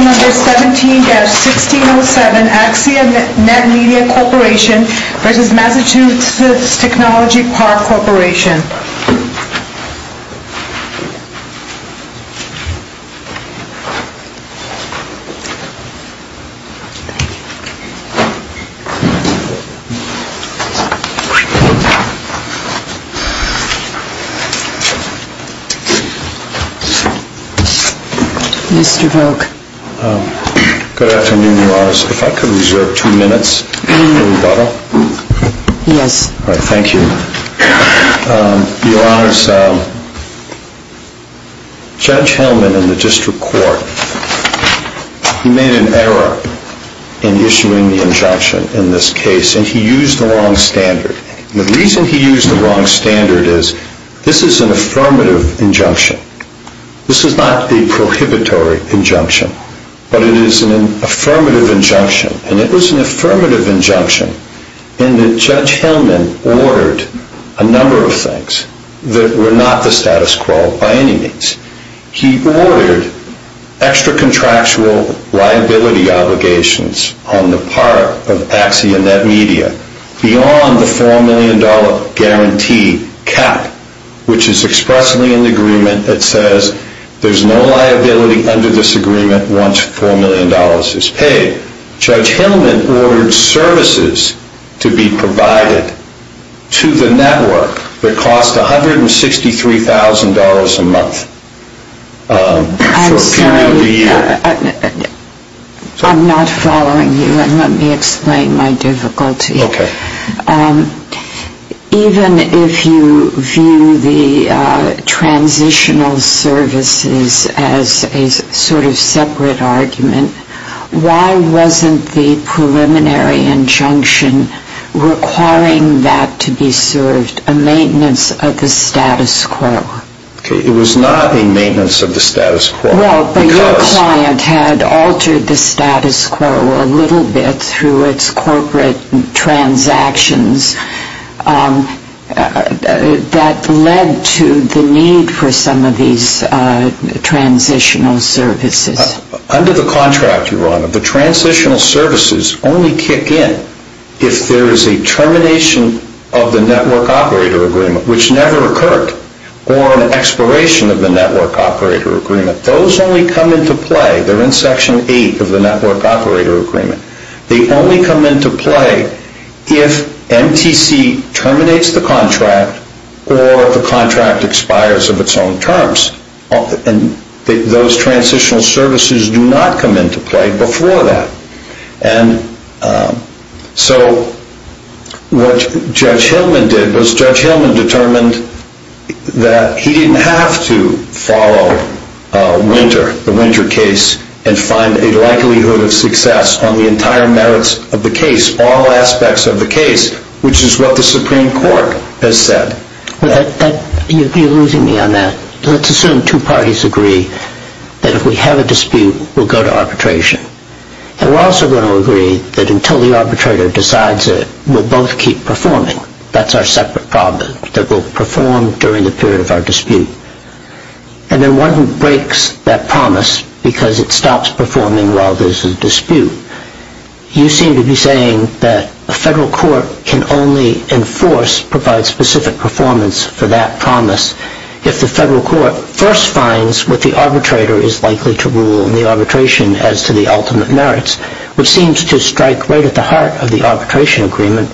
17-1607 Axia NetMedia Corp. v. Mass. Technology Park Corp. Mr. Volk. Good afternoon, Mars. If I could reserve two minutes for rebuttal. Yes. Thank you. Your Honors, Judge Hellman in the District Court made an error in issuing the injunction in this case, and he used the wrong standard. The reason he used the wrong standard is this is an affirmative injunction. This is not a prohibitory injunction, but it is an affirmative injunction, and it was an affirmative injunction in that Judge Hellman ordered a number of things that were not the status quo by any means. He ordered extra-contractual liability obligations on the part of Axia NetMedia beyond the $4 million guarantee cap, which is expressly in the agreement that says there is no liability under this agreement once $4 million is paid. Judge Hellman ordered services to be provided to the network that cost $163,000 a month for a period of a year. I'm sorry. I'm not following you, and let me explain my difficulty. Okay. Even if you view the transitional services as a sort of separate argument, why wasn't the preliminary injunction requiring that to be served a maintenance of the status quo? Okay. It was not a maintenance of the status quo. Well, but your client had altered the status quo a little bit through its corporate transactions that led to the need for some of these transitional services. Under the contract, Your Honor, the transitional services only kick in if there is a termination of the network operator agreement, which never occurred, or an expiration of the network operator agreement. Those only come into play they're in Section 8 of the network operator agreement. They only come into play if MTC terminates the contract or the contract expires of its own terms. And those transitional services do not come into play before that. And so what Judge Hellman did was Judge Hellman determined that he didn't have to follow Winter, the Winter case, and find a likelihood of success on the entire merits of the case, all aspects of the case, which is what the Supreme Court has said. You're losing me on that. Let's assume two parties agree that if we have a dispute, we'll go to arbitration. And we're also going to agree that until the arbitrator decides it, we'll both keep performing. That's our separate problem, that we'll perform during the period of our dispute. And then one who breaks that promise because it stops performing while there's a dispute. You seem to be saying that a federal court can only enforce, provide specific performance for that promise if the federal court first finds what the arbitrator is likely to rule in the arbitration as to the ultimate merits, which seems to strike right at the heart of the arbitration agreement,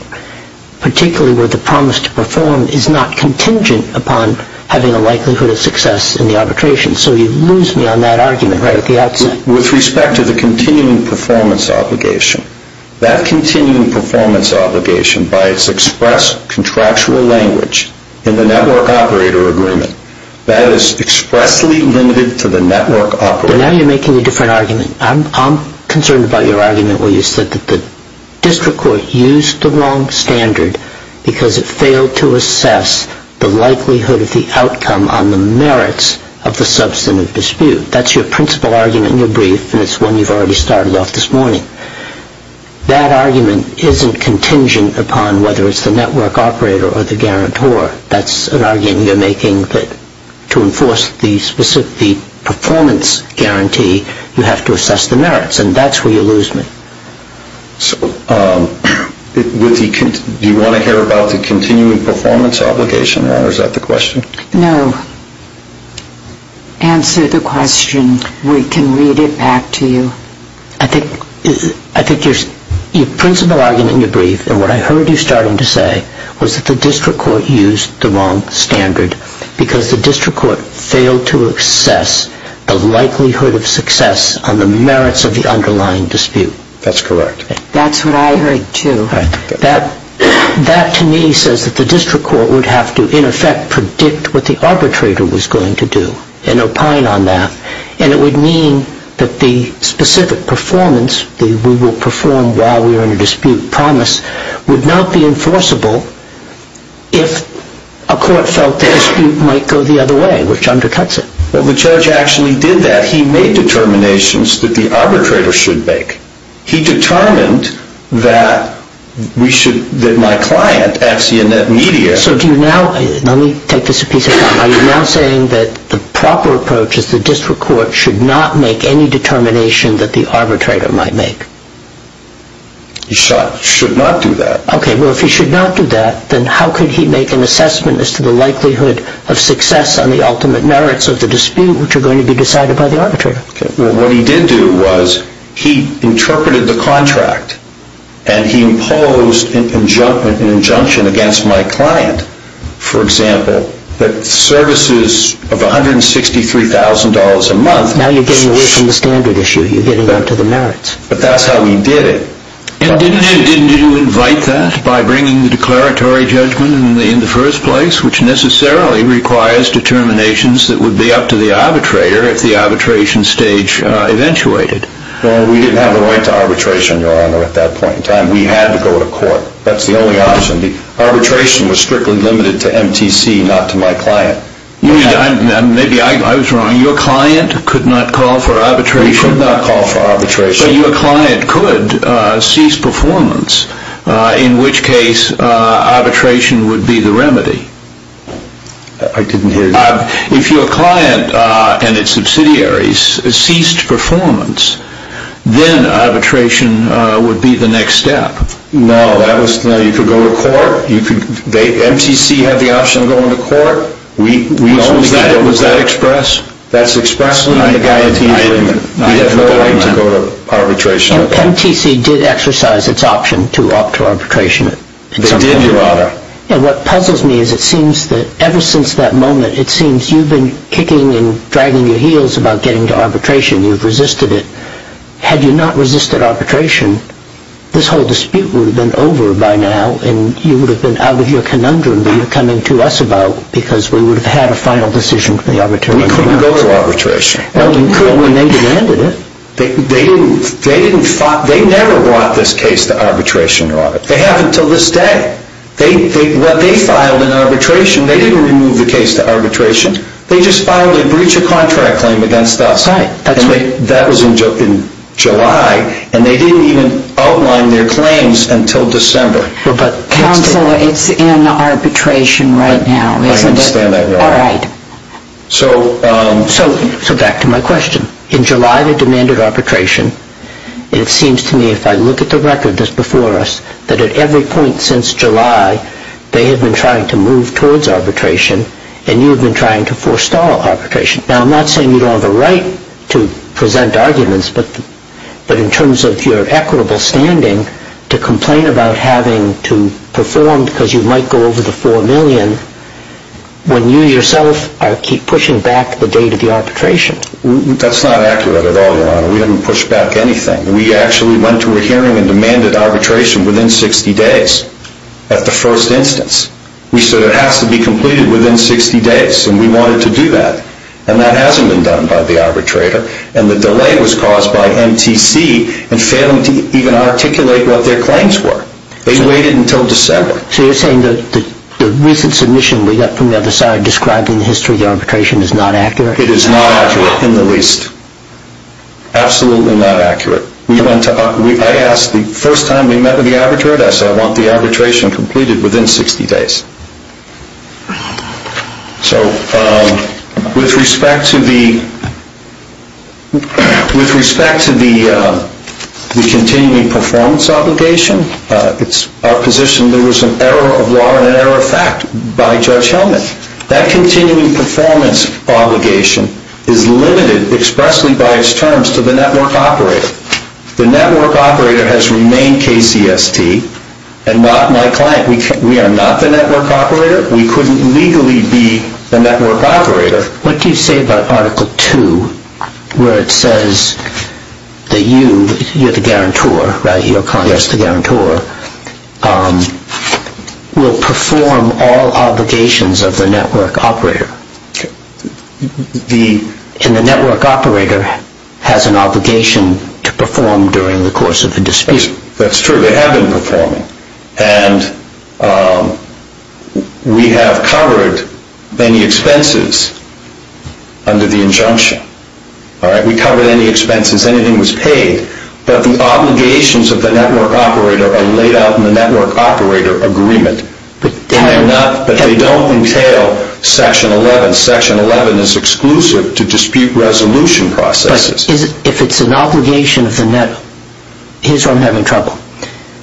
particularly where the promise to perform is not contingent upon having a likelihood of success in the arbitration. So you lose me on that argument right at the outset. With respect to the continuing performance obligation, that continuing performance obligation by its express contractual language in the network operator agreement, that is expressly limited to the network operator. Now you're making a different argument. I'm concerned about your argument where you said that the district court used the wrong standard because it failed to assess the likelihood of the outcome on the merits of the substantive dispute. That's your principal argument in your brief, and it's one you've already started off this morning. That argument isn't contingent upon whether it's the network operator or the guarantor. That's an argument you're making that to enforce the performance guarantee, you have to assess the merits, and that's where you lose me. So do you want to hear about the continuing performance obligation, or is that the question? No. Answer the question. We can read it back to you. I think your principal argument in your brief, and what I heard you starting to say, was that the district court used the wrong standard because the district court failed to assess the likelihood of success on the merits of the underlying dispute. That's correct. That's what I heard, too. That, to me, says that the district court would have to, in effect, predict what the arbitrator was going to do and opine on that, and it would mean that the specific performance that we will perform while we are in a dispute promise would not be enforceable if a court felt the dispute might go the other way, which undercuts it. Well, the judge actually did that. He made determinations that the arbitrator should make. He determined that we should, that my client, Axionet Media... So do you now, let me take this a piece of, are you now saying that the proper approach is the district court should not make any determination that the arbitrator might make? Should not do that. Okay, well, if he should not do that, then how could he make an assessment as to the likelihood of success on the ultimate merits of the dispute, which are going to be decided by the arbitrator? Well, what he did do was he interpreted the contract, and he imposed an injunction against my client, for example, that services of $163,000 a month... Now you're getting away from the standard issue. You're getting up to the merits. But that's how he did it. And didn't he invite that by bringing the declaratory judgment in the first place, which necessarily requires determinations that would be up to the arbitrator if the arbitration stage eventuated? Well, we didn't have the right to arbitration, Your Honor, at that point in time. We had to go to court. That's the only option. Arbitration was strictly limited to MTC, not to my client. Maybe I was wrong. Your client could not call for arbitration? We could not call for arbitration. So your client could cease performance, in which case arbitration would be the remedy? I didn't hear you. If your client and its subsidiaries ceased performance, then arbitration would be the next step. No, you could go to court. MTC had the option of going to court. Was that express? That's express. I have no right to go to arbitration. MTC did exercise its option to opt to arbitration. They did, Your Honor. And what puzzles me is it seems that ever since that moment, it seems you've been kicking and dragging your heels about getting to arbitration. You've resisted it. Had you not resisted arbitration, this whole dispute would have been over by now, and you would have been out of your conundrum that you're coming to us about because we would have had a final decision from the arbitrator. We couldn't go to arbitration. Well, you could when they demanded it. They never brought this case to arbitration, Your Honor. They have until this day. What they filed in arbitration, they didn't remove the case to arbitration. They just filed a breach of contract claim against us. That's right. That was in July, and they didn't even outline their claims until December. Counsel, it's in arbitration right now, isn't it? I understand that, Your Honor. All right. So back to my question. In July, they demanded arbitration. It seems to me, if I look at the record that's before us, that at every point since July, they have been trying to move towards arbitration, and you have been trying to forestall arbitration. Now, I'm not saying you don't have a right to present arguments, but in terms of your equitable standing to complain about having to perform because you might go over the $4 million when you yourself keep pushing back the date of the arbitration. That's not accurate at all, Your Honor. We haven't pushed back anything. We actually went to a hearing and demanded arbitration within 60 days at the first instance. We said it has to be completed within 60 days, and we wanted to do that, and that hasn't been done by the arbitrator, and the delay was caused by MTC in failing to even articulate what their claims were. They waited until December. So you're saying the recent submission we got from the other side describing the history of the arbitration is not accurate? It is not accurate in the least. Absolutely not accurate. I asked the first time we met with the arbitrator, and I said I want the arbitration completed within 60 days. So with respect to the continuing performance obligation, it's our position there was an error of law and an error of fact by Judge Hellman. That continuing performance obligation is limited expressly by its terms to the network operator. The network operator has remained KCST, and my client, we are not the network operator. We couldn't legally be the network operator. What do you say about Article 2 where it says that you, you're the guarantor, right, and the network operator has an obligation to perform during the course of the dispute? That's true. They have been performing, and we have covered any expenses under the injunction. We covered any expenses. Anything was paid, but the obligations of the network operator are laid out in the network operator agreement. But they don't entail Section 11. Section 11 is exclusive to dispute resolution processes. But if it's an obligation of the network, here's where I'm having trouble.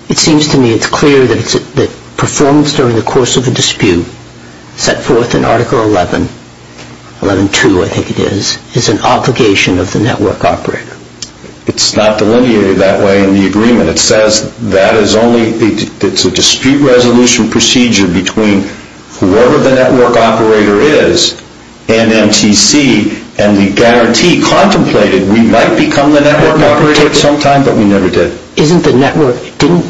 It seems to me it's clear that performance during the course of a dispute set forth in Article 11, 11.2 I think it is, is an obligation of the network operator. It's not delineated that way in the agreement. It says that is only, it's a dispute resolution procedure between whoever the network operator is and MTC, and we guarantee contemplated we might become the network operator sometime, but we never did. Isn't the network, didn't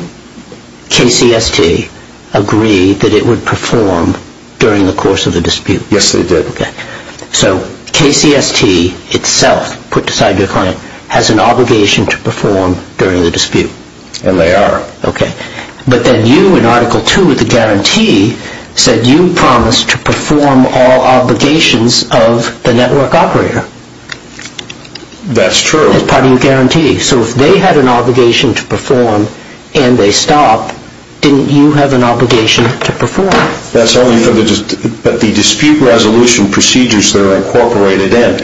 KCST agree that it would perform during the course of the dispute? Yes, they did. Okay. So KCST itself, put aside their client, has an obligation to perform during the dispute. And they are. Okay. But then you in Article 2 of the guarantee said you promised to perform all obligations of the network operator. That's true. That's part of your guarantee. So if they had an obligation to perform and they stopped, didn't you have an obligation to perform? That's only for the dispute resolution procedures that are incorporated in.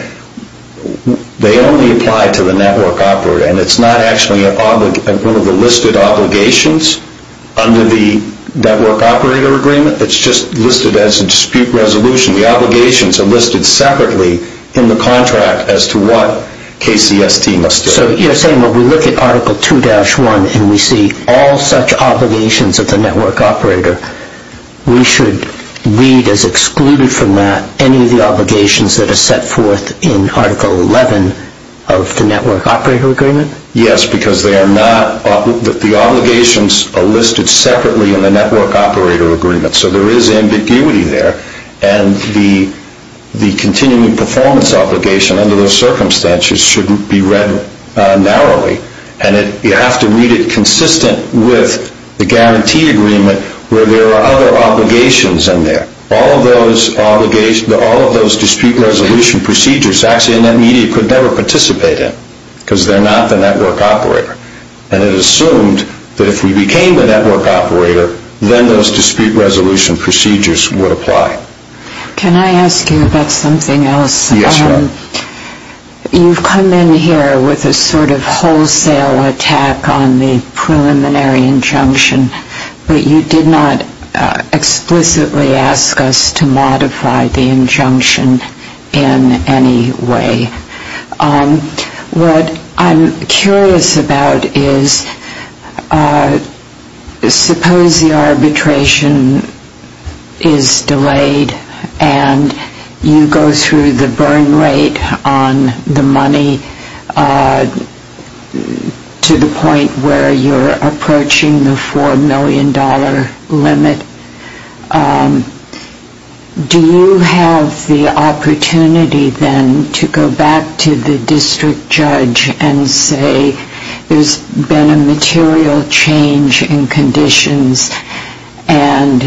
They only apply to the network operator, and it's not actually one of the listed obligations under the network operator agreement. It's just listed as a dispute resolution. The obligations are listed separately in the contract as to what KCST must do. So you're saying when we look at Article 2-1 and we see all such obligations of the network operator, we should read as excluded from that any of the obligations that are set forth in Article 11 of the network operator agreement? Yes, because they are not, the obligations are listed separately in the network operator agreement. So there is ambiguity there, and the continuing performance obligation under those circumstances shouldn't be read narrowly. And you have to read it consistent with the guarantee agreement where there are other obligations in there. All of those dispute resolution procedures actually in that media could never participate in because they're not the network operator. And it is assumed that if we became the network operator, then those dispute resolution procedures would apply. Can I ask you about something else? Yes. You've come in here with a sort of wholesale attack on the preliminary injunction, but you did not explicitly ask us to modify the injunction in any way. What I'm curious about is suppose the arbitration is delayed and you go through the burn rate on the money to the point where you're approaching the $4 million limit. Do you have the opportunity then to go back to the district judge and say there's been a material change in conditions and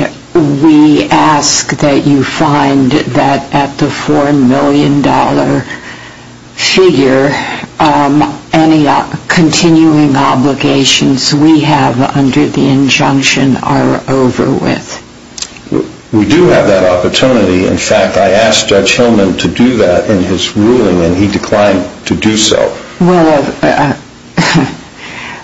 we ask that you find that at the $4 million figure, any continuing obligations we have under the injunction are over with? We do have that opportunity. In fact, I asked Judge Hillman to do that in his ruling, and he declined to do so. Well,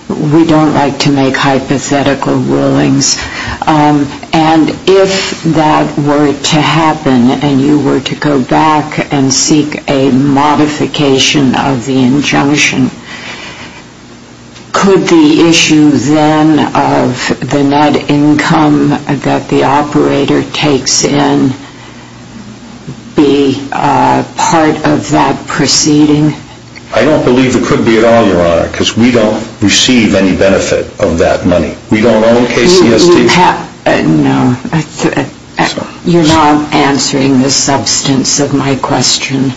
we don't like to make hypothetical rulings. And if that were to happen and you were to go back and seek a modification of the injunction, could the issue then of the net income that the operator takes in be part of that proceeding? I don't believe it could be at all, Your Honor, because we don't receive any benefit of that money. We don't own KCST. No. You're not answering the substance of my question.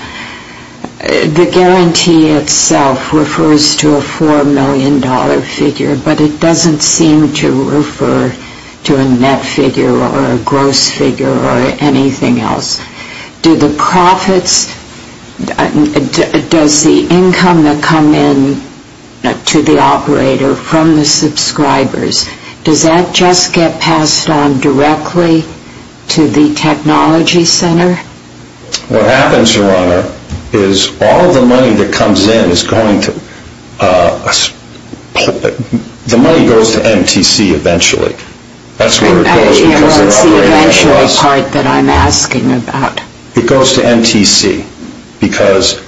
The guarantee itself refers to a $4 million figure, but it doesn't seem to refer to a net figure or a gross figure or anything else. Do the profits, does the income that come in to the operator from the subscribers, does that just get passed on directly to the technology center? What happens, Your Honor, is all the money that comes in is going to, the money goes to MTC eventually. That's the eventual part that I'm asking about. It goes to MTC because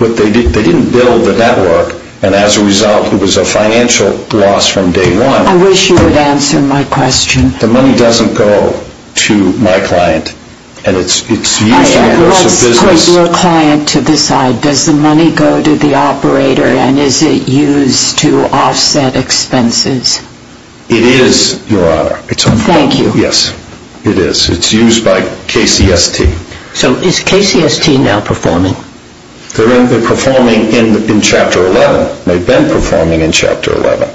they didn't build the network, and as a result it was a financial loss from day one. I wish you would answer my question. The money doesn't go to my client, and it's used in the course of business. You put your client to the side. Does the money go to the operator, and is it used to offset expenses? It is, Your Honor. Thank you. Yes, it is. It's used by KCST. So is KCST now performing? They're performing in Chapter 11. They've been performing in Chapter 11.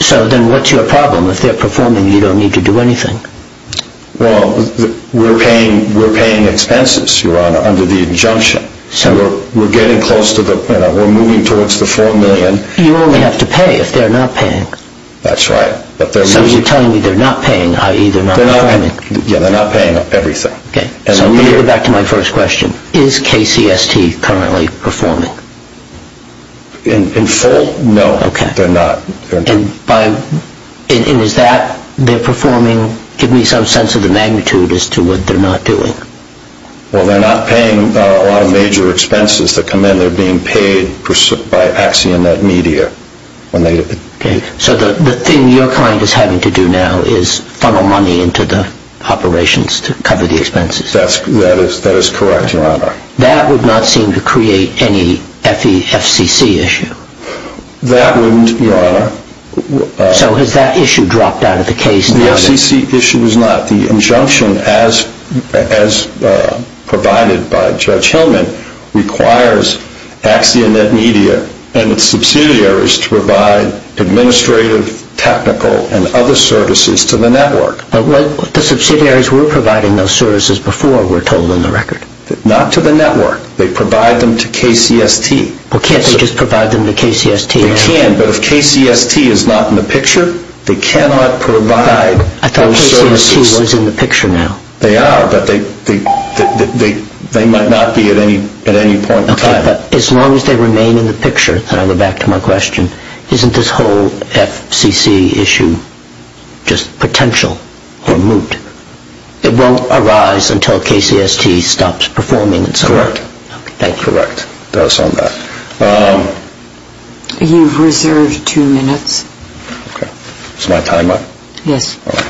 So then what's your problem? If they're performing, you don't need to do anything. Well, we're paying expenses, Your Honor, under the injunction. We're getting close to the, we're moving towards the $4 million. You only have to pay if they're not paying. That's right. So you're telling me they're not paying, i.e. they're not performing. Yeah, they're not paying everything. Okay. So let me go back to my first question. Is KCST currently performing? In full, no. Okay. And is that, they're performing, give me some sense of the magnitude as to what they're not doing. Well, they're not paying a lot of major expenses that come in. They're being paid by Accionet Media. Okay. So the thing your client is having to do now is funnel money into the operations to cover the expenses. That is correct, Your Honor. That would not seem to create any FECC issue. That wouldn't, Your Honor. So has that issue dropped out of the case? The FCC issue is not. The injunction as provided by Judge Hillman requires Accionet Media and its subsidiaries to provide administrative, technical, and other services to the network. But the subsidiaries were providing those services before, we're told in the record. Not to the network. They provide them to KCST. Well, can't they just provide them to KCST? They can, but if KCST is not in the picture, they cannot provide those services. I thought KCST was in the picture now. They are, but they might not be at any point in time. Okay, but as long as they remain in the picture, and I'll go back to my question, isn't this whole FCC issue just potential or moot? It won't arise until KCST stops performing in some way. Correct. Thank you. Correct. Doubtless on that. You've reserved two minutes. Okay. Is my time up? Yes. All right.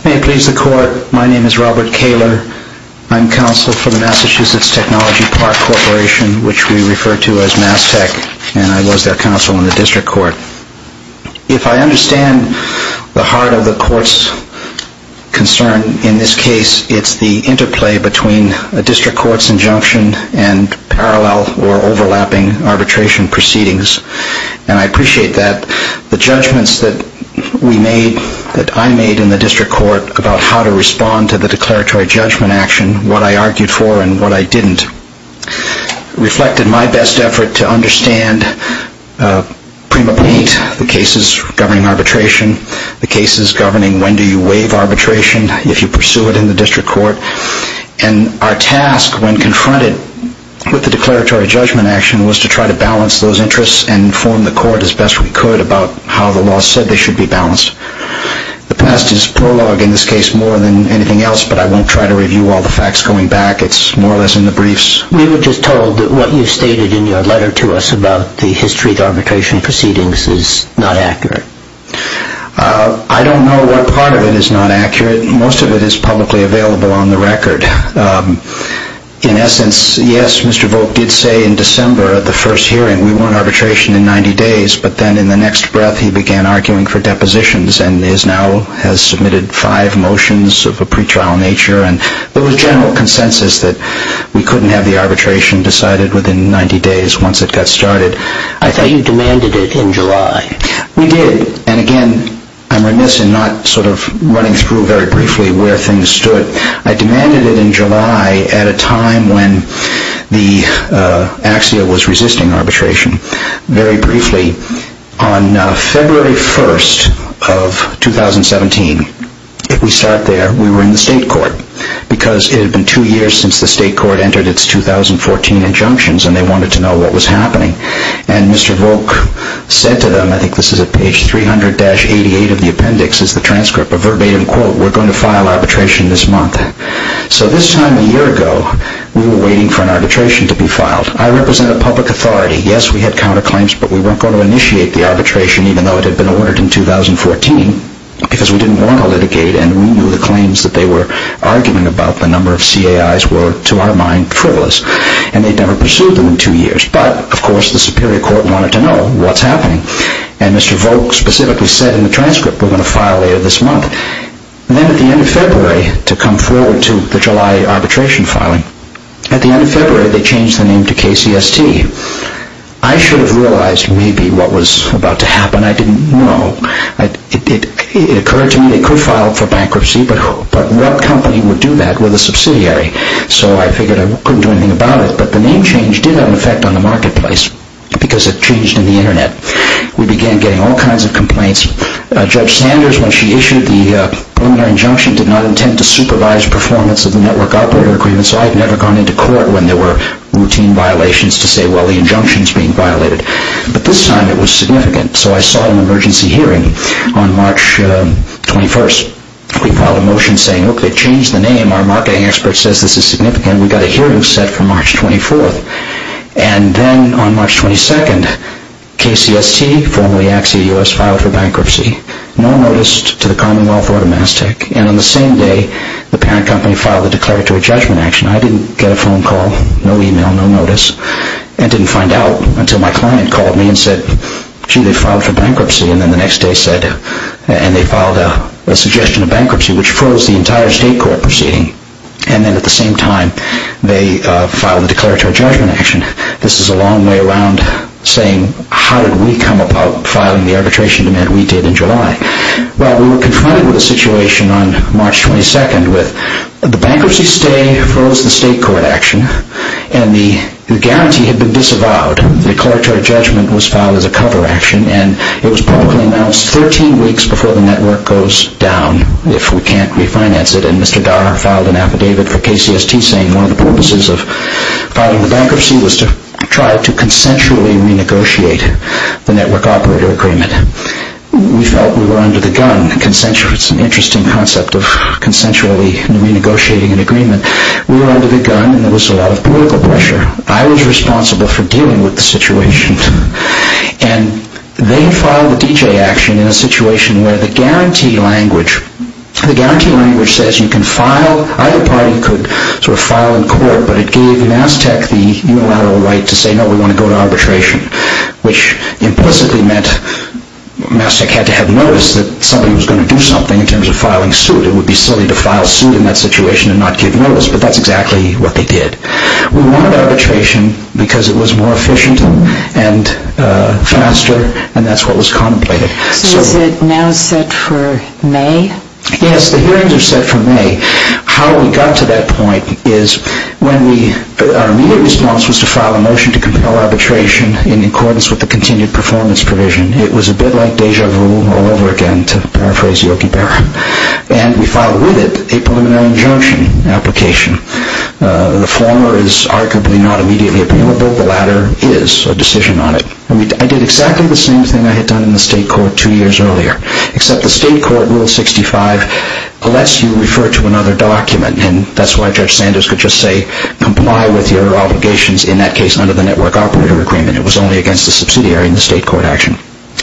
Thanks. May it please the Court, my name is Robert Kaler. I'm counsel for the Massachusetts Technology Park Corporation, which we refer to as MassTech, and I was their counsel in the district court. If I understand the heart of the court's concern, in this case, it's the interplay between a district court's injunction and parallel or overlapping arbitration proceedings, and I appreciate that. The judgments that we made, that I made in the district court, about how to respond to the declaratory judgment action, what I argued for and what I didn't, reflected my best effort to understand prima paint, the cases governing arbitration, the cases governing when do you waive arbitration, if you pursue it in the district court, and our task when confronted with the declaratory judgment action was to try to balance those interests and inform the court as best we could about how the law said they should be balanced. The past is prologue in this case more than anything else, but I won't try to review all the facts going back. It's more or less in the briefs. We were just told that what you stated in your letter to us about the history of arbitration proceedings is not accurate. I don't know what part of it is not accurate. Most of it is publicly available on the record. In essence, yes, Mr. Volk did say in December of the first hearing, we want arbitration in 90 days, but then in the next breath he began arguing for depositions and now has submitted five motions of a pretrial nature, and there was general consensus that we couldn't have the arbitration decided within 90 days once it got started. I thought you demanded it in July. We did, and again, I'm remiss in not sort of running through very briefly where things stood. But I demanded it in July at a time when AXIA was resisting arbitration. Very briefly, on February 1st of 2017, if we start there, we were in the state court because it had been two years since the state court entered its 2014 injunctions and they wanted to know what was happening. And Mr. Volk said to them, I think this is at page 300-88 of the appendix, this is the transcript, a verbatim quote, we're going to file arbitration this month. So this time a year ago, we were waiting for an arbitration to be filed. I represent a public authority. Yes, we had counterclaims, but we weren't going to initiate the arbitration, even though it had been ordered in 2014, because we didn't want to litigate and we knew the claims that they were arguing about the number of CAIs were, to our mind, frivolous. And they'd never pursued them in two years. But, of course, the superior court wanted to know what's happening. And Mr. Volk specifically said in the transcript, we're going to file later this month. Then at the end of February, to come forward to the July arbitration filing, at the end of February, they changed the name to KCST. I should have realized maybe what was about to happen. I didn't know. It occurred to me they could file for bankruptcy, but what company would do that with a subsidiary? So I figured I couldn't do anything about it. But the name change did have an effect on the marketplace, because it changed in the Internet. We began getting all kinds of complaints. Judge Sanders, when she issued the preliminary injunction, did not intend to supervise performance of the network operator agreement, so I had never gone into court when there were routine violations to say, well, the injunction's being violated. But this time it was significant, so I sought an emergency hearing on March 21st. We filed a motion saying, okay, change the name. Our marketing expert says this is significant. And we got a hearing set for March 24th. And then on March 22nd, KCST, formerly Axios, filed for bankruptcy. No notice to the Commonwealth or to Mass Tech. And on the same day, the parent company filed a declaratory judgment action. I didn't get a phone call, no email, no notice, and didn't find out until my client called me and said, gee, they filed for bankruptcy. And then the next day said, and they filed a suggestion of bankruptcy, which froze the entire state court proceeding. And then at the same time, they filed a declaratory judgment action. This is a long way around saying how did we come about filing the arbitration demand we did in July. Well, we were confronted with a situation on March 22nd with the bankruptcy stay froze the state court action, and the guarantee had been disavowed. The declaratory judgment was filed as a cover action, and it was publicly announced 13 weeks before the network goes down if we can't refinance it. And Mr. Darr filed an affidavit for KCST saying one of the purposes of filing the bankruptcy was to try to consensually renegotiate the network operator agreement. We felt we were under the gun. It's an interesting concept of consensually renegotiating an agreement. We were under the gun, and there was a lot of political pressure. I was responsible for dealing with the situation. And they filed the DJ action in a situation where the guarantee language, the guarantee language says you can file, either party could sort of file in court, but it gave Mass Tech the unilateral right to say no, we want to go to arbitration, which implicitly meant Mass Tech had to have noticed that somebody was going to do something in terms of filing suit. It would be silly to file suit in that situation and not give notice, but that's exactly what they did. We wanted arbitration because it was more efficient and faster, and that's what was contemplated. So is it now set for May? Yes, the hearings are set for May. How we got to that point is our immediate response was to file a motion to compel arbitration in accordance with the continued performance provision. It was a bit like deja vu all over again, to paraphrase Yogi Berra, and we filed with it a preliminary injunction application. The former is arguably not immediately appealable. The latter is a decision on it. I did exactly the same thing I had done in the state court two years earlier, except the state court rule 65 lets you refer to another document, and that's why Judge Sanders could just say comply with your obligations, in that case under the network operator agreement. It was only against the subsidiary in the state court action.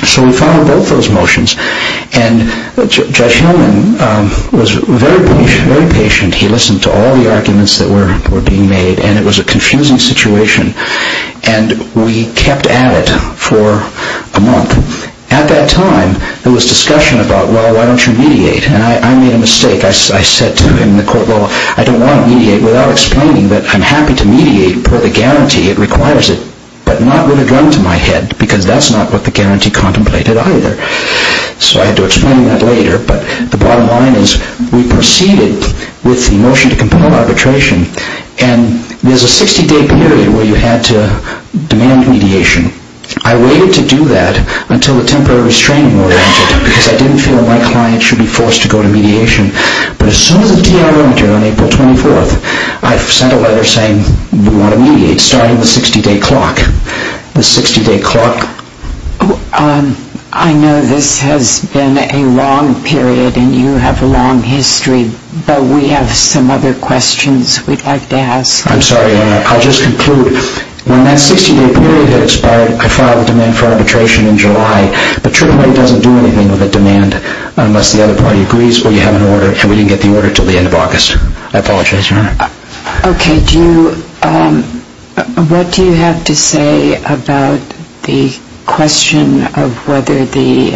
So we filed both those motions, and Judge Hillman was very patient. He listened to all the arguments that were being made, and it was a confusing situation, and we kept at it for a month. At that time, there was discussion about, well, why don't you mediate? And I made a mistake. I said to him in the court, well, I don't want to mediate, without explaining that I'm happy to mediate for the guarantee it requires it, but not with a gun to my head, because that's not what the guarantee contemplated either. So I had to explain that later, but the bottom line is we proceeded with the motion to compel arbitration, and there's a 60-day period where you had to demand mediation. I waited to do that until the temporary restraining order entered, because I didn't feel my client should be forced to go to mediation. But as soon as the D.I. went in on April 24th, I sent a letter saying we want to mediate, starting the 60-day clock. The 60-day clock. I know this has been a long period, and you have a long history, but we have some other questions we'd like to ask. I'm sorry, Your Honor. I'll just conclude. When that 60-day period expired, I filed a demand for arbitration in July, but Trigley doesn't do anything with a demand unless the other party agrees, or you have an order, and we didn't get the order until the end of August. I apologize, Your Honor. Okay. What do you have to say about the question of whether the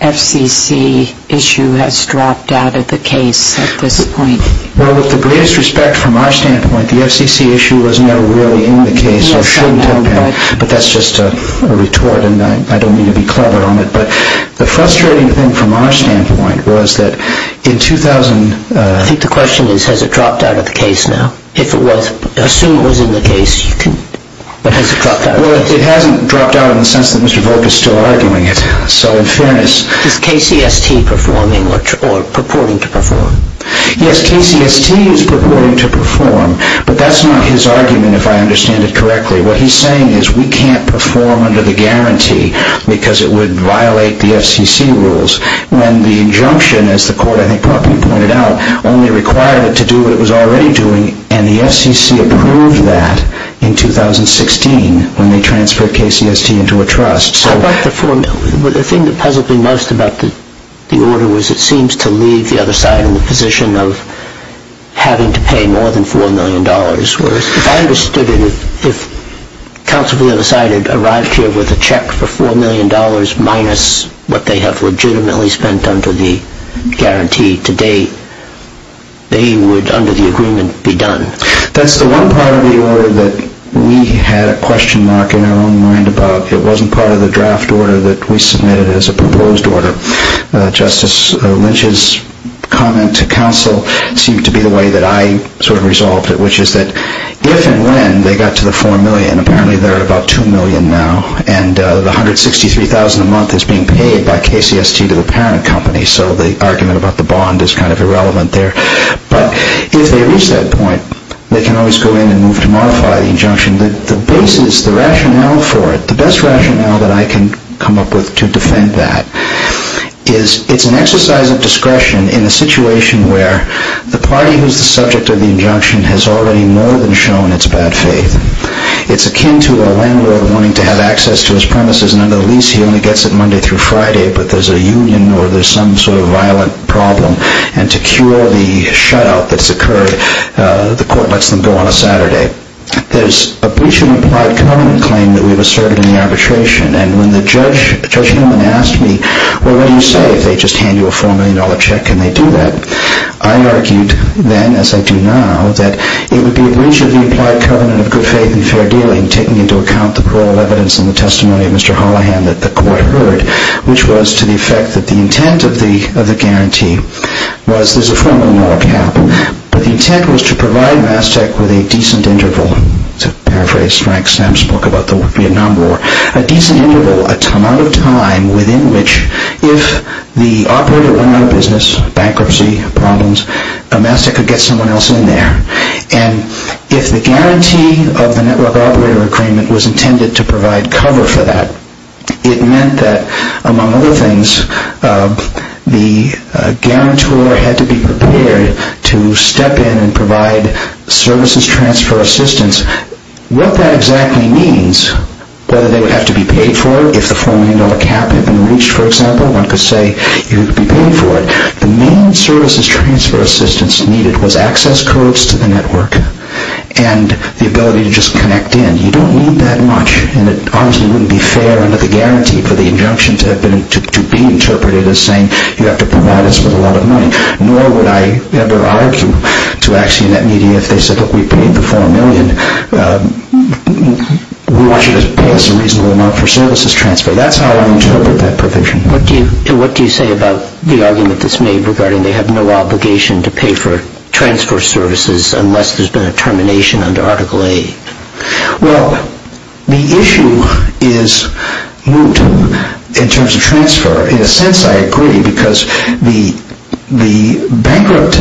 FCC issue has dropped out of the case at this point? Well, with the greatest respect from our standpoint, the FCC issue was never really in the case or should have been, but that's just a retort, and I don't mean to be clever on it. But the frustrating thing from our standpoint was that in 2000… I think the question is, has it dropped out of the case now? If it was, assume it was in the case, but has it dropped out of the case? Well, it hasn't dropped out in the sense that Mr. Volk is still arguing it. So in fairness… Is KCST performing or purporting to perform? Yes, KCST is purporting to perform, but that's not his argument, if I understand it correctly. What he's saying is we can't perform under the guarantee because it would violate the FCC rules, when the injunction, as the court, I think, properly pointed out, only required it to do what it was already doing, and the FCC approved that in 2016 when they transferred KCST into a trust. The thing that puzzled me most about the order was it seems to leave the other side in the position of having to pay more than $4 million. If I understood it, if counsel decided to arrive here with a check for $4 million minus what they have legitimately spent under the guarantee to date, they would, under the agreement, be done. That's the one part of the order that we had a question mark in our own mind about. It wasn't part of the draft order that we submitted as a proposed order. Justice Lynch's comment to counsel seemed to be the way that I sort of resolved it, which is that if and when they got to the $4 million, apparently they're at about $2 million now, and the $163,000 a month is being paid by KCST to the parent company, so the argument about the bond is kind of irrelevant there. But if they reach that point, they can always go in and move to modify the injunction. The basis, the rationale for it, the best rationale that I can come up with to defend that is it's an exercise of discretion in a situation where the party who's the subject of the injunction has already more than shown its bad faith. It's akin to a landlord wanting to have access to his premises, and under the lease he only gets it Monday through Friday, but there's a union or there's some sort of violent problem, and to cure the shutout that's occurred, the court lets them go on a Saturday. There's a breach of implied covenant claim that we've asserted in the arbitration, and when Judge Newman asked me, well, what do you say if they just hand you a $4 million check, can they do that? I argued then, as I do now, that it would be a breach of the implied covenant of good faith and fair dealing, taking into account the parole of evidence and the testimony of Mr. Hollihan that the court heard, which was to the effect that the intent of the guarantee was there's a $4 million cap, but the intent was to provide Mass Tech with a decent interval, to paraphrase Frank Stam's book about the Vietnam War, a decent interval, a time within which if the operator went out of business, bankruptcy problems, Mass Tech could get someone else in there. And if the guarantee of the network operator agreement was intended to provide cover for that, it meant that, among other things, the guarantor had to be prepared to step in and provide services transfer assistance. What that exactly means, whether they would have to be paid for it, if the $4 million cap had been reached, for example, one could say you'd be paid for it, the main services transfer assistance needed was access codes to the network and the ability to just connect in. You don't need that much, and it honestly wouldn't be fair under the guarantee for the injunction to be interpreted as saying you have to provide us with a lot of money. Nor would I ever argue to Axionet Media if they said, look, we paid the $4 million, we want you to pay us a reasonable amount for services transfer. That's how I interpret that provision. What do you say about the argument that's made regarding they have no obligation to pay for transfer services unless there's been a termination under Article A? Well, the issue is moot in terms of transfer. In a sense I agree because the bankrupt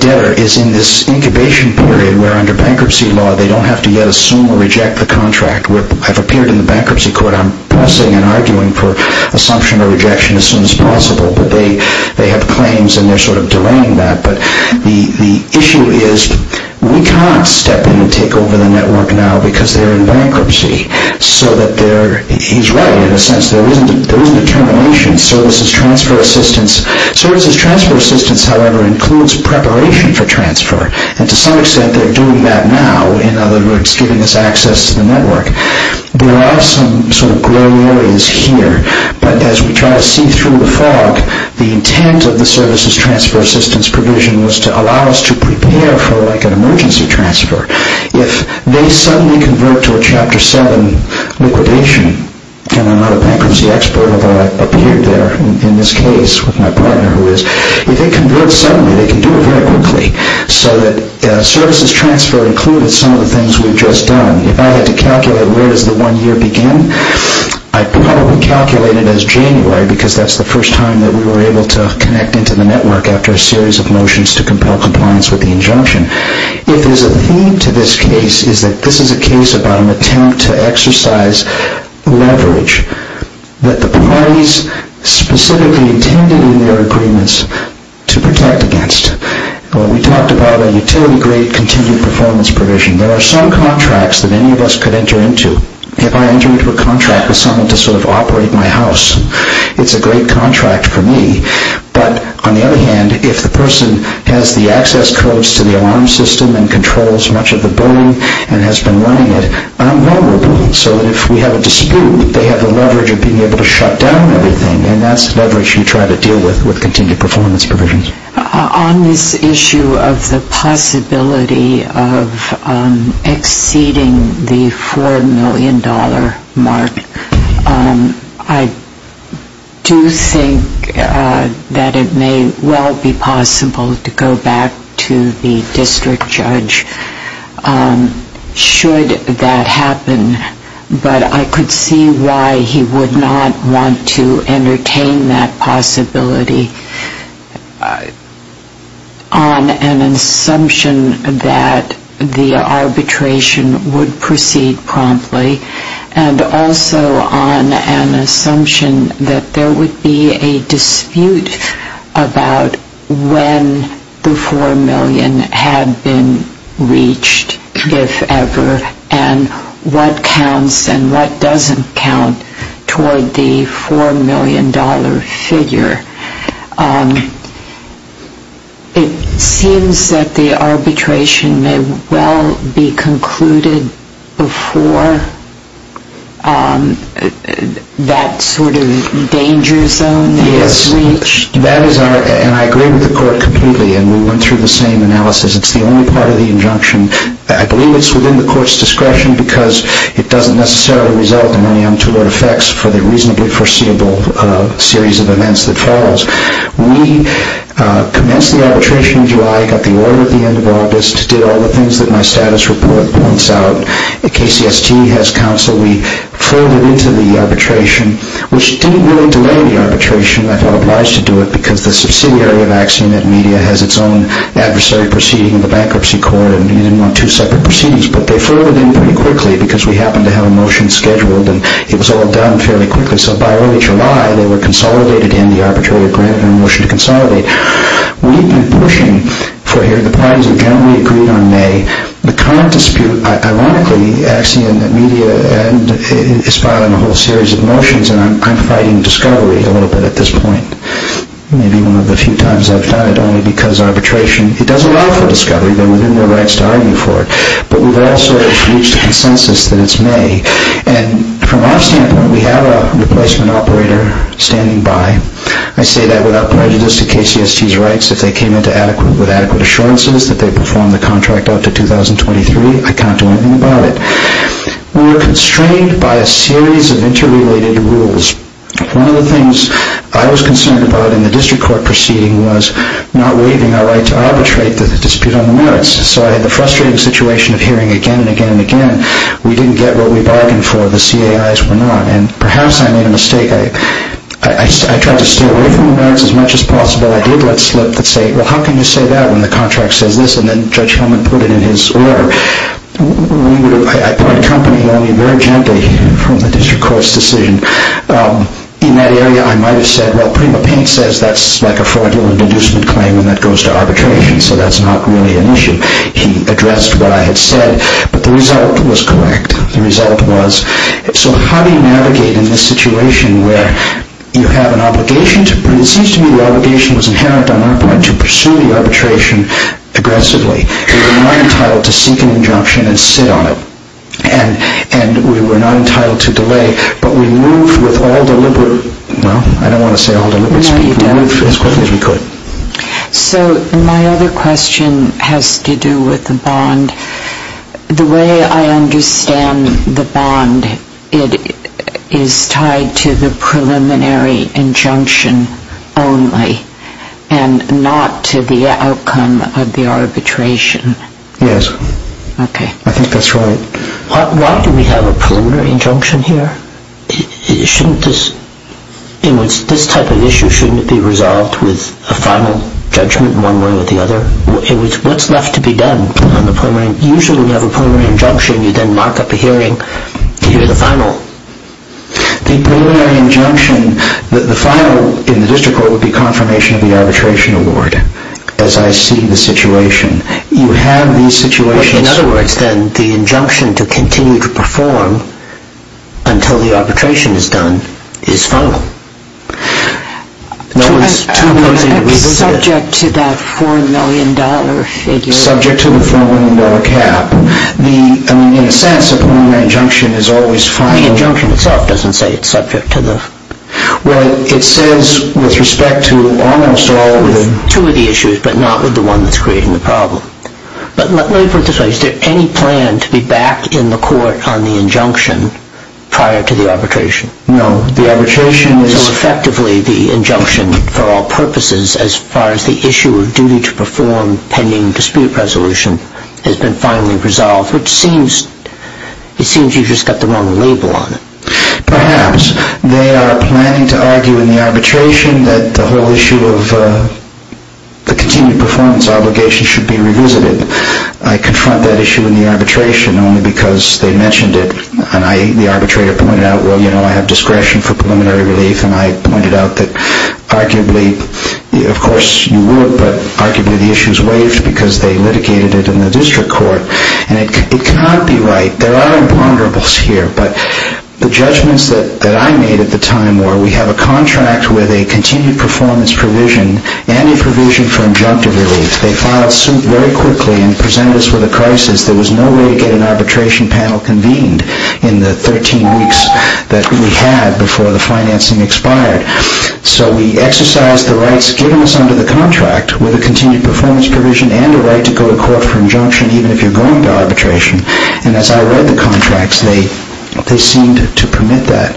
debtor is in this incubation period where under bankruptcy law they don't have to yet assume or reject the contract. I've appeared in the bankruptcy court. I'm pulsing and arguing for assumption or rejection as soon as possible, but they have claims and they're sort of delaying that. But the issue is we can't step in and take over the network now because they're in bankruptcy. He's right in a sense. There isn't a termination in services transfer assistance. Services transfer assistance, however, includes preparation for transfer, and to some extent they're doing that now, in other words, giving us access to the network. There are some sort of gray areas here, but as we try to see through the fog, the intent of the services transfer assistance provision was to allow us to prepare for like an emergency transfer. If they suddenly convert to a Chapter 7 liquidation, and I'm not a bankruptcy expert, although I appeared there in this case with my partner who is, if they convert suddenly, they can do it very quickly, so that services transfer includes some of the things we've just done. If I had to calculate where does the one year begin, I'd probably calculate it as January because that's the first time that we were able to connect into the network after a series of motions to compel compliance with the injunction. If there's a theme to this case, it's that this is a case about an attempt to exercise leverage that the parties specifically intended in their agreements to protect against. We talked about a utility grade continued performance provision. There are some contracts that any of us could enter into. If I enter into a contract with someone to sort of operate my house, it's a great contract for me, but on the other hand, if the person has the access codes to the alarm system and controls much of the billing and has been running it, I'm no more billing, so that if we have a dispute, they have the leverage of being able to shut down everything, and that's leverage you try to deal with with continued performance provisions. On this issue of the possibility of exceeding the $4 million mark, I do think that it may well be possible to go back to the district judge. Should that happen, but I could see why he would not want to entertain that possibility on an assumption that the arbitration would proceed promptly, and also on an assumption that there would be a dispute about when the $4 million had been reached, if ever, and what counts and what doesn't count toward the $4 million figure. It seems that the arbitration may well be concluded before that sort of danger zone is reached. Yes, and I agree with the court completely, and we went through the same analysis. It's the only part of the injunction. I believe it's within the court's discretion because it doesn't necessarily result in any untoward effects for the reasonably foreseeable series of events that follows. We commenced the arbitration in July, got the order at the end of August, did all the things that my status report points out. KCST has counsel. We furloughed into the arbitration, which didn't really delay the arbitration. I felt obliged to do it because the subsidiary of Accident Media has its own adversary proceeding in the bankruptcy court, and we didn't want two separate proceedings. But they furloughed in pretty quickly because we happened to have a motion scheduled, and it was all done fairly quickly. So by early July, they were consolidated in the arbitration, granted a motion to consolidate. We've been pushing for here. The parties have generally agreed on May. The current dispute, ironically, Accident Media is spot on a whole series of motions, and I'm fighting discovery a little bit at this point. Maybe one of the few times I've done it, only because arbitration, it does allow for discovery. They're within their rights to argue for it. But we've also reached a consensus that it's May. And from our standpoint, we have a replacement operator standing by. I say that without prejudice to KCST's rights. If they came in with adequate assurances that they'd perform the contract up to 2023, I can't do anything about it. We were constrained by a series of interrelated rules. One of the things I was concerned about in the district court proceeding was not waiving our right to arbitrate the dispute on the merits. So I had the frustrating situation of hearing again and again and again, we didn't get what we bargained for, the CAIs were not. And perhaps I made a mistake. I tried to stay away from the merits as much as possible. I did let slip the state, well, how can you say that when the contract says this? And then Judge Hellman put it in his order. I accompanied only very gently from the district court's decision. In that area, I might have said, well, Prima Paint says that's like a fraudulent inducement claim and that goes to arbitration, so that's not really an issue. He addressed what I had said. But the result was correct. The result was, so how do you navigate in this situation where you have an obligation to but it seems to me the obligation was inherent on our part to pursue the arbitration aggressively. We were not entitled to seek an injunction and sit on it. And we were not entitled to delay. But we moved with all deliberate, well, I don't want to say all deliberate speed. We moved as quickly as we could. So my other question has to do with the bond. The way I understand the bond, it is tied to the preliminary injunction only and not to the outcome of the arbitration. Yes. Okay. I think that's right. Why do we have a preliminary injunction here? Shouldn't this, this type of issue, shouldn't it be resolved with a final judgment one way or the other? What's left to be done on the preliminary? Usually when you have a preliminary injunction, you then mark up a hearing to hear the final. The preliminary injunction, the final in the district court would be confirmation of the arbitration award, as I see the situation. You have these situations. In other words, then, the injunction to continue to perform until the arbitration is done is final. I'm subject to that $4 million figure. Subject to the $4 million cap. I mean, in a sense, a preliminary injunction is always final. The injunction itself doesn't say it's subject to the. Well, it says with respect to almost all of the. Two of the issues, but not with the one that's creating the problem. But let me put it this way. Is there any plan to be back in the court on the injunction prior to the arbitration? No. So effectively the injunction for all purposes as far as the issue of duty to perform pending dispute resolution has been finally resolved, which seems you've just got the wrong label on it. Perhaps. They are planning to argue in the arbitration that the whole issue of the continued performance obligation should be revisited. I confront that issue in the arbitration only because they mentioned it. And the arbitrator pointed out, well, you know, I have discretion for preliminary relief. And I pointed out that arguably, of course, you would. But arguably the issue is waived because they litigated it in the district court. And it cannot be right. There are imponderables here. But the judgments that I made at the time were we have a contract with a continued performance provision and a provision for injunctive relief. They filed suit very quickly and presented us with a crisis. There was no way to get an arbitration panel convened in the 13 weeks that we had before the financing expired. So we exercised the rights given us under the contract with a continued performance provision and a right to go to court for injunction even if you're going to arbitration. And as I read the contracts, they seemed to permit that.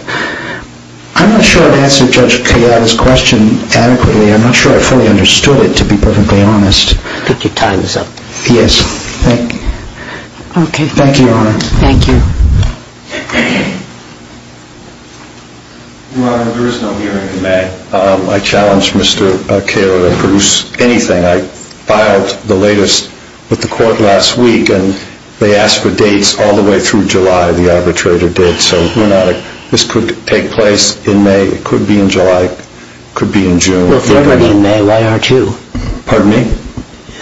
I'm not sure I've answered Judge Kayaba's question adequately. I'm not sure I fully understood it, to be perfectly honest. I think your time is up. Yes. Thank you. Thank you, Your Honor. Thank you. Your Honor, there is no hearing in May. I challenge Mr. Kayaba to produce anything. I filed the latest with the court last week, and they asked for dates all the way through July. The arbitrator did. So this could take place in May. It could be in July. It could be in June. Well, if they're ready in May, why aren't you? Pardon me?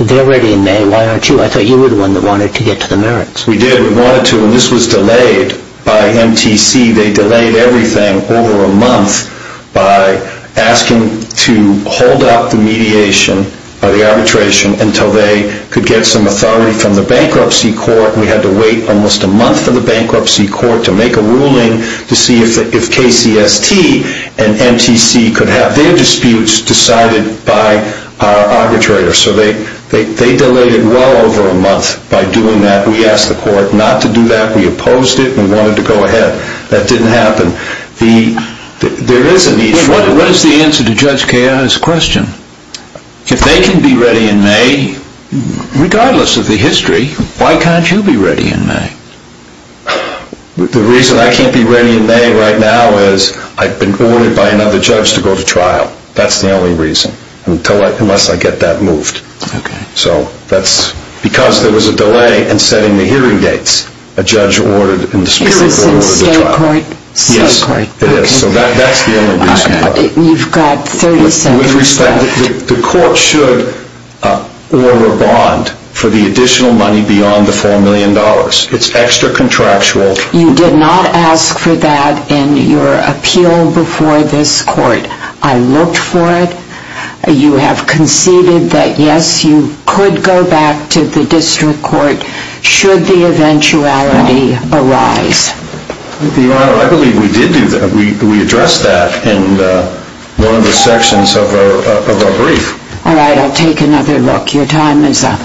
If they're ready in May, why aren't you? I thought you were the one that wanted to get to the merits. We did. We wanted to, and this was delayed by MTC. They delayed everything over a month by asking to hold up the mediation or the arbitration until they could get some authority from the bankruptcy court. We had to wait almost a month for the bankruptcy court to make a ruling to see if KCST and MTC could have their disputes decided by our arbitrator. So they delayed it well over a month by doing that. We asked the court not to do that. We opposed it and wanted to go ahead. That didn't happen. There is a need for it. What is the answer to Judge Kayaba's question? If they can be ready in May, regardless of the history, why can't you be ready in May? The reason I can't be ready in May right now is I've been ordered by another judge to go to trial. That's the only reason. Unless I get that moved. Okay. So that's because there was a delay in setting the hearing dates. A judge ordered and specifically ordered the trial. It was in state court? Yes, it is. So that's the only reason. You've got 30 seconds left. With respect, the court should order a bond for the additional money beyond the $4 million. It's extra contractual. You did not ask for that in your appeal before this court. I looked for it. You have conceded that, yes, you could go back to the district court should the eventuality arise. Your Honor, I believe we did do that. We addressed that in one of the sections of our brief. All right. I'll take another look. Your time is up. Thank you.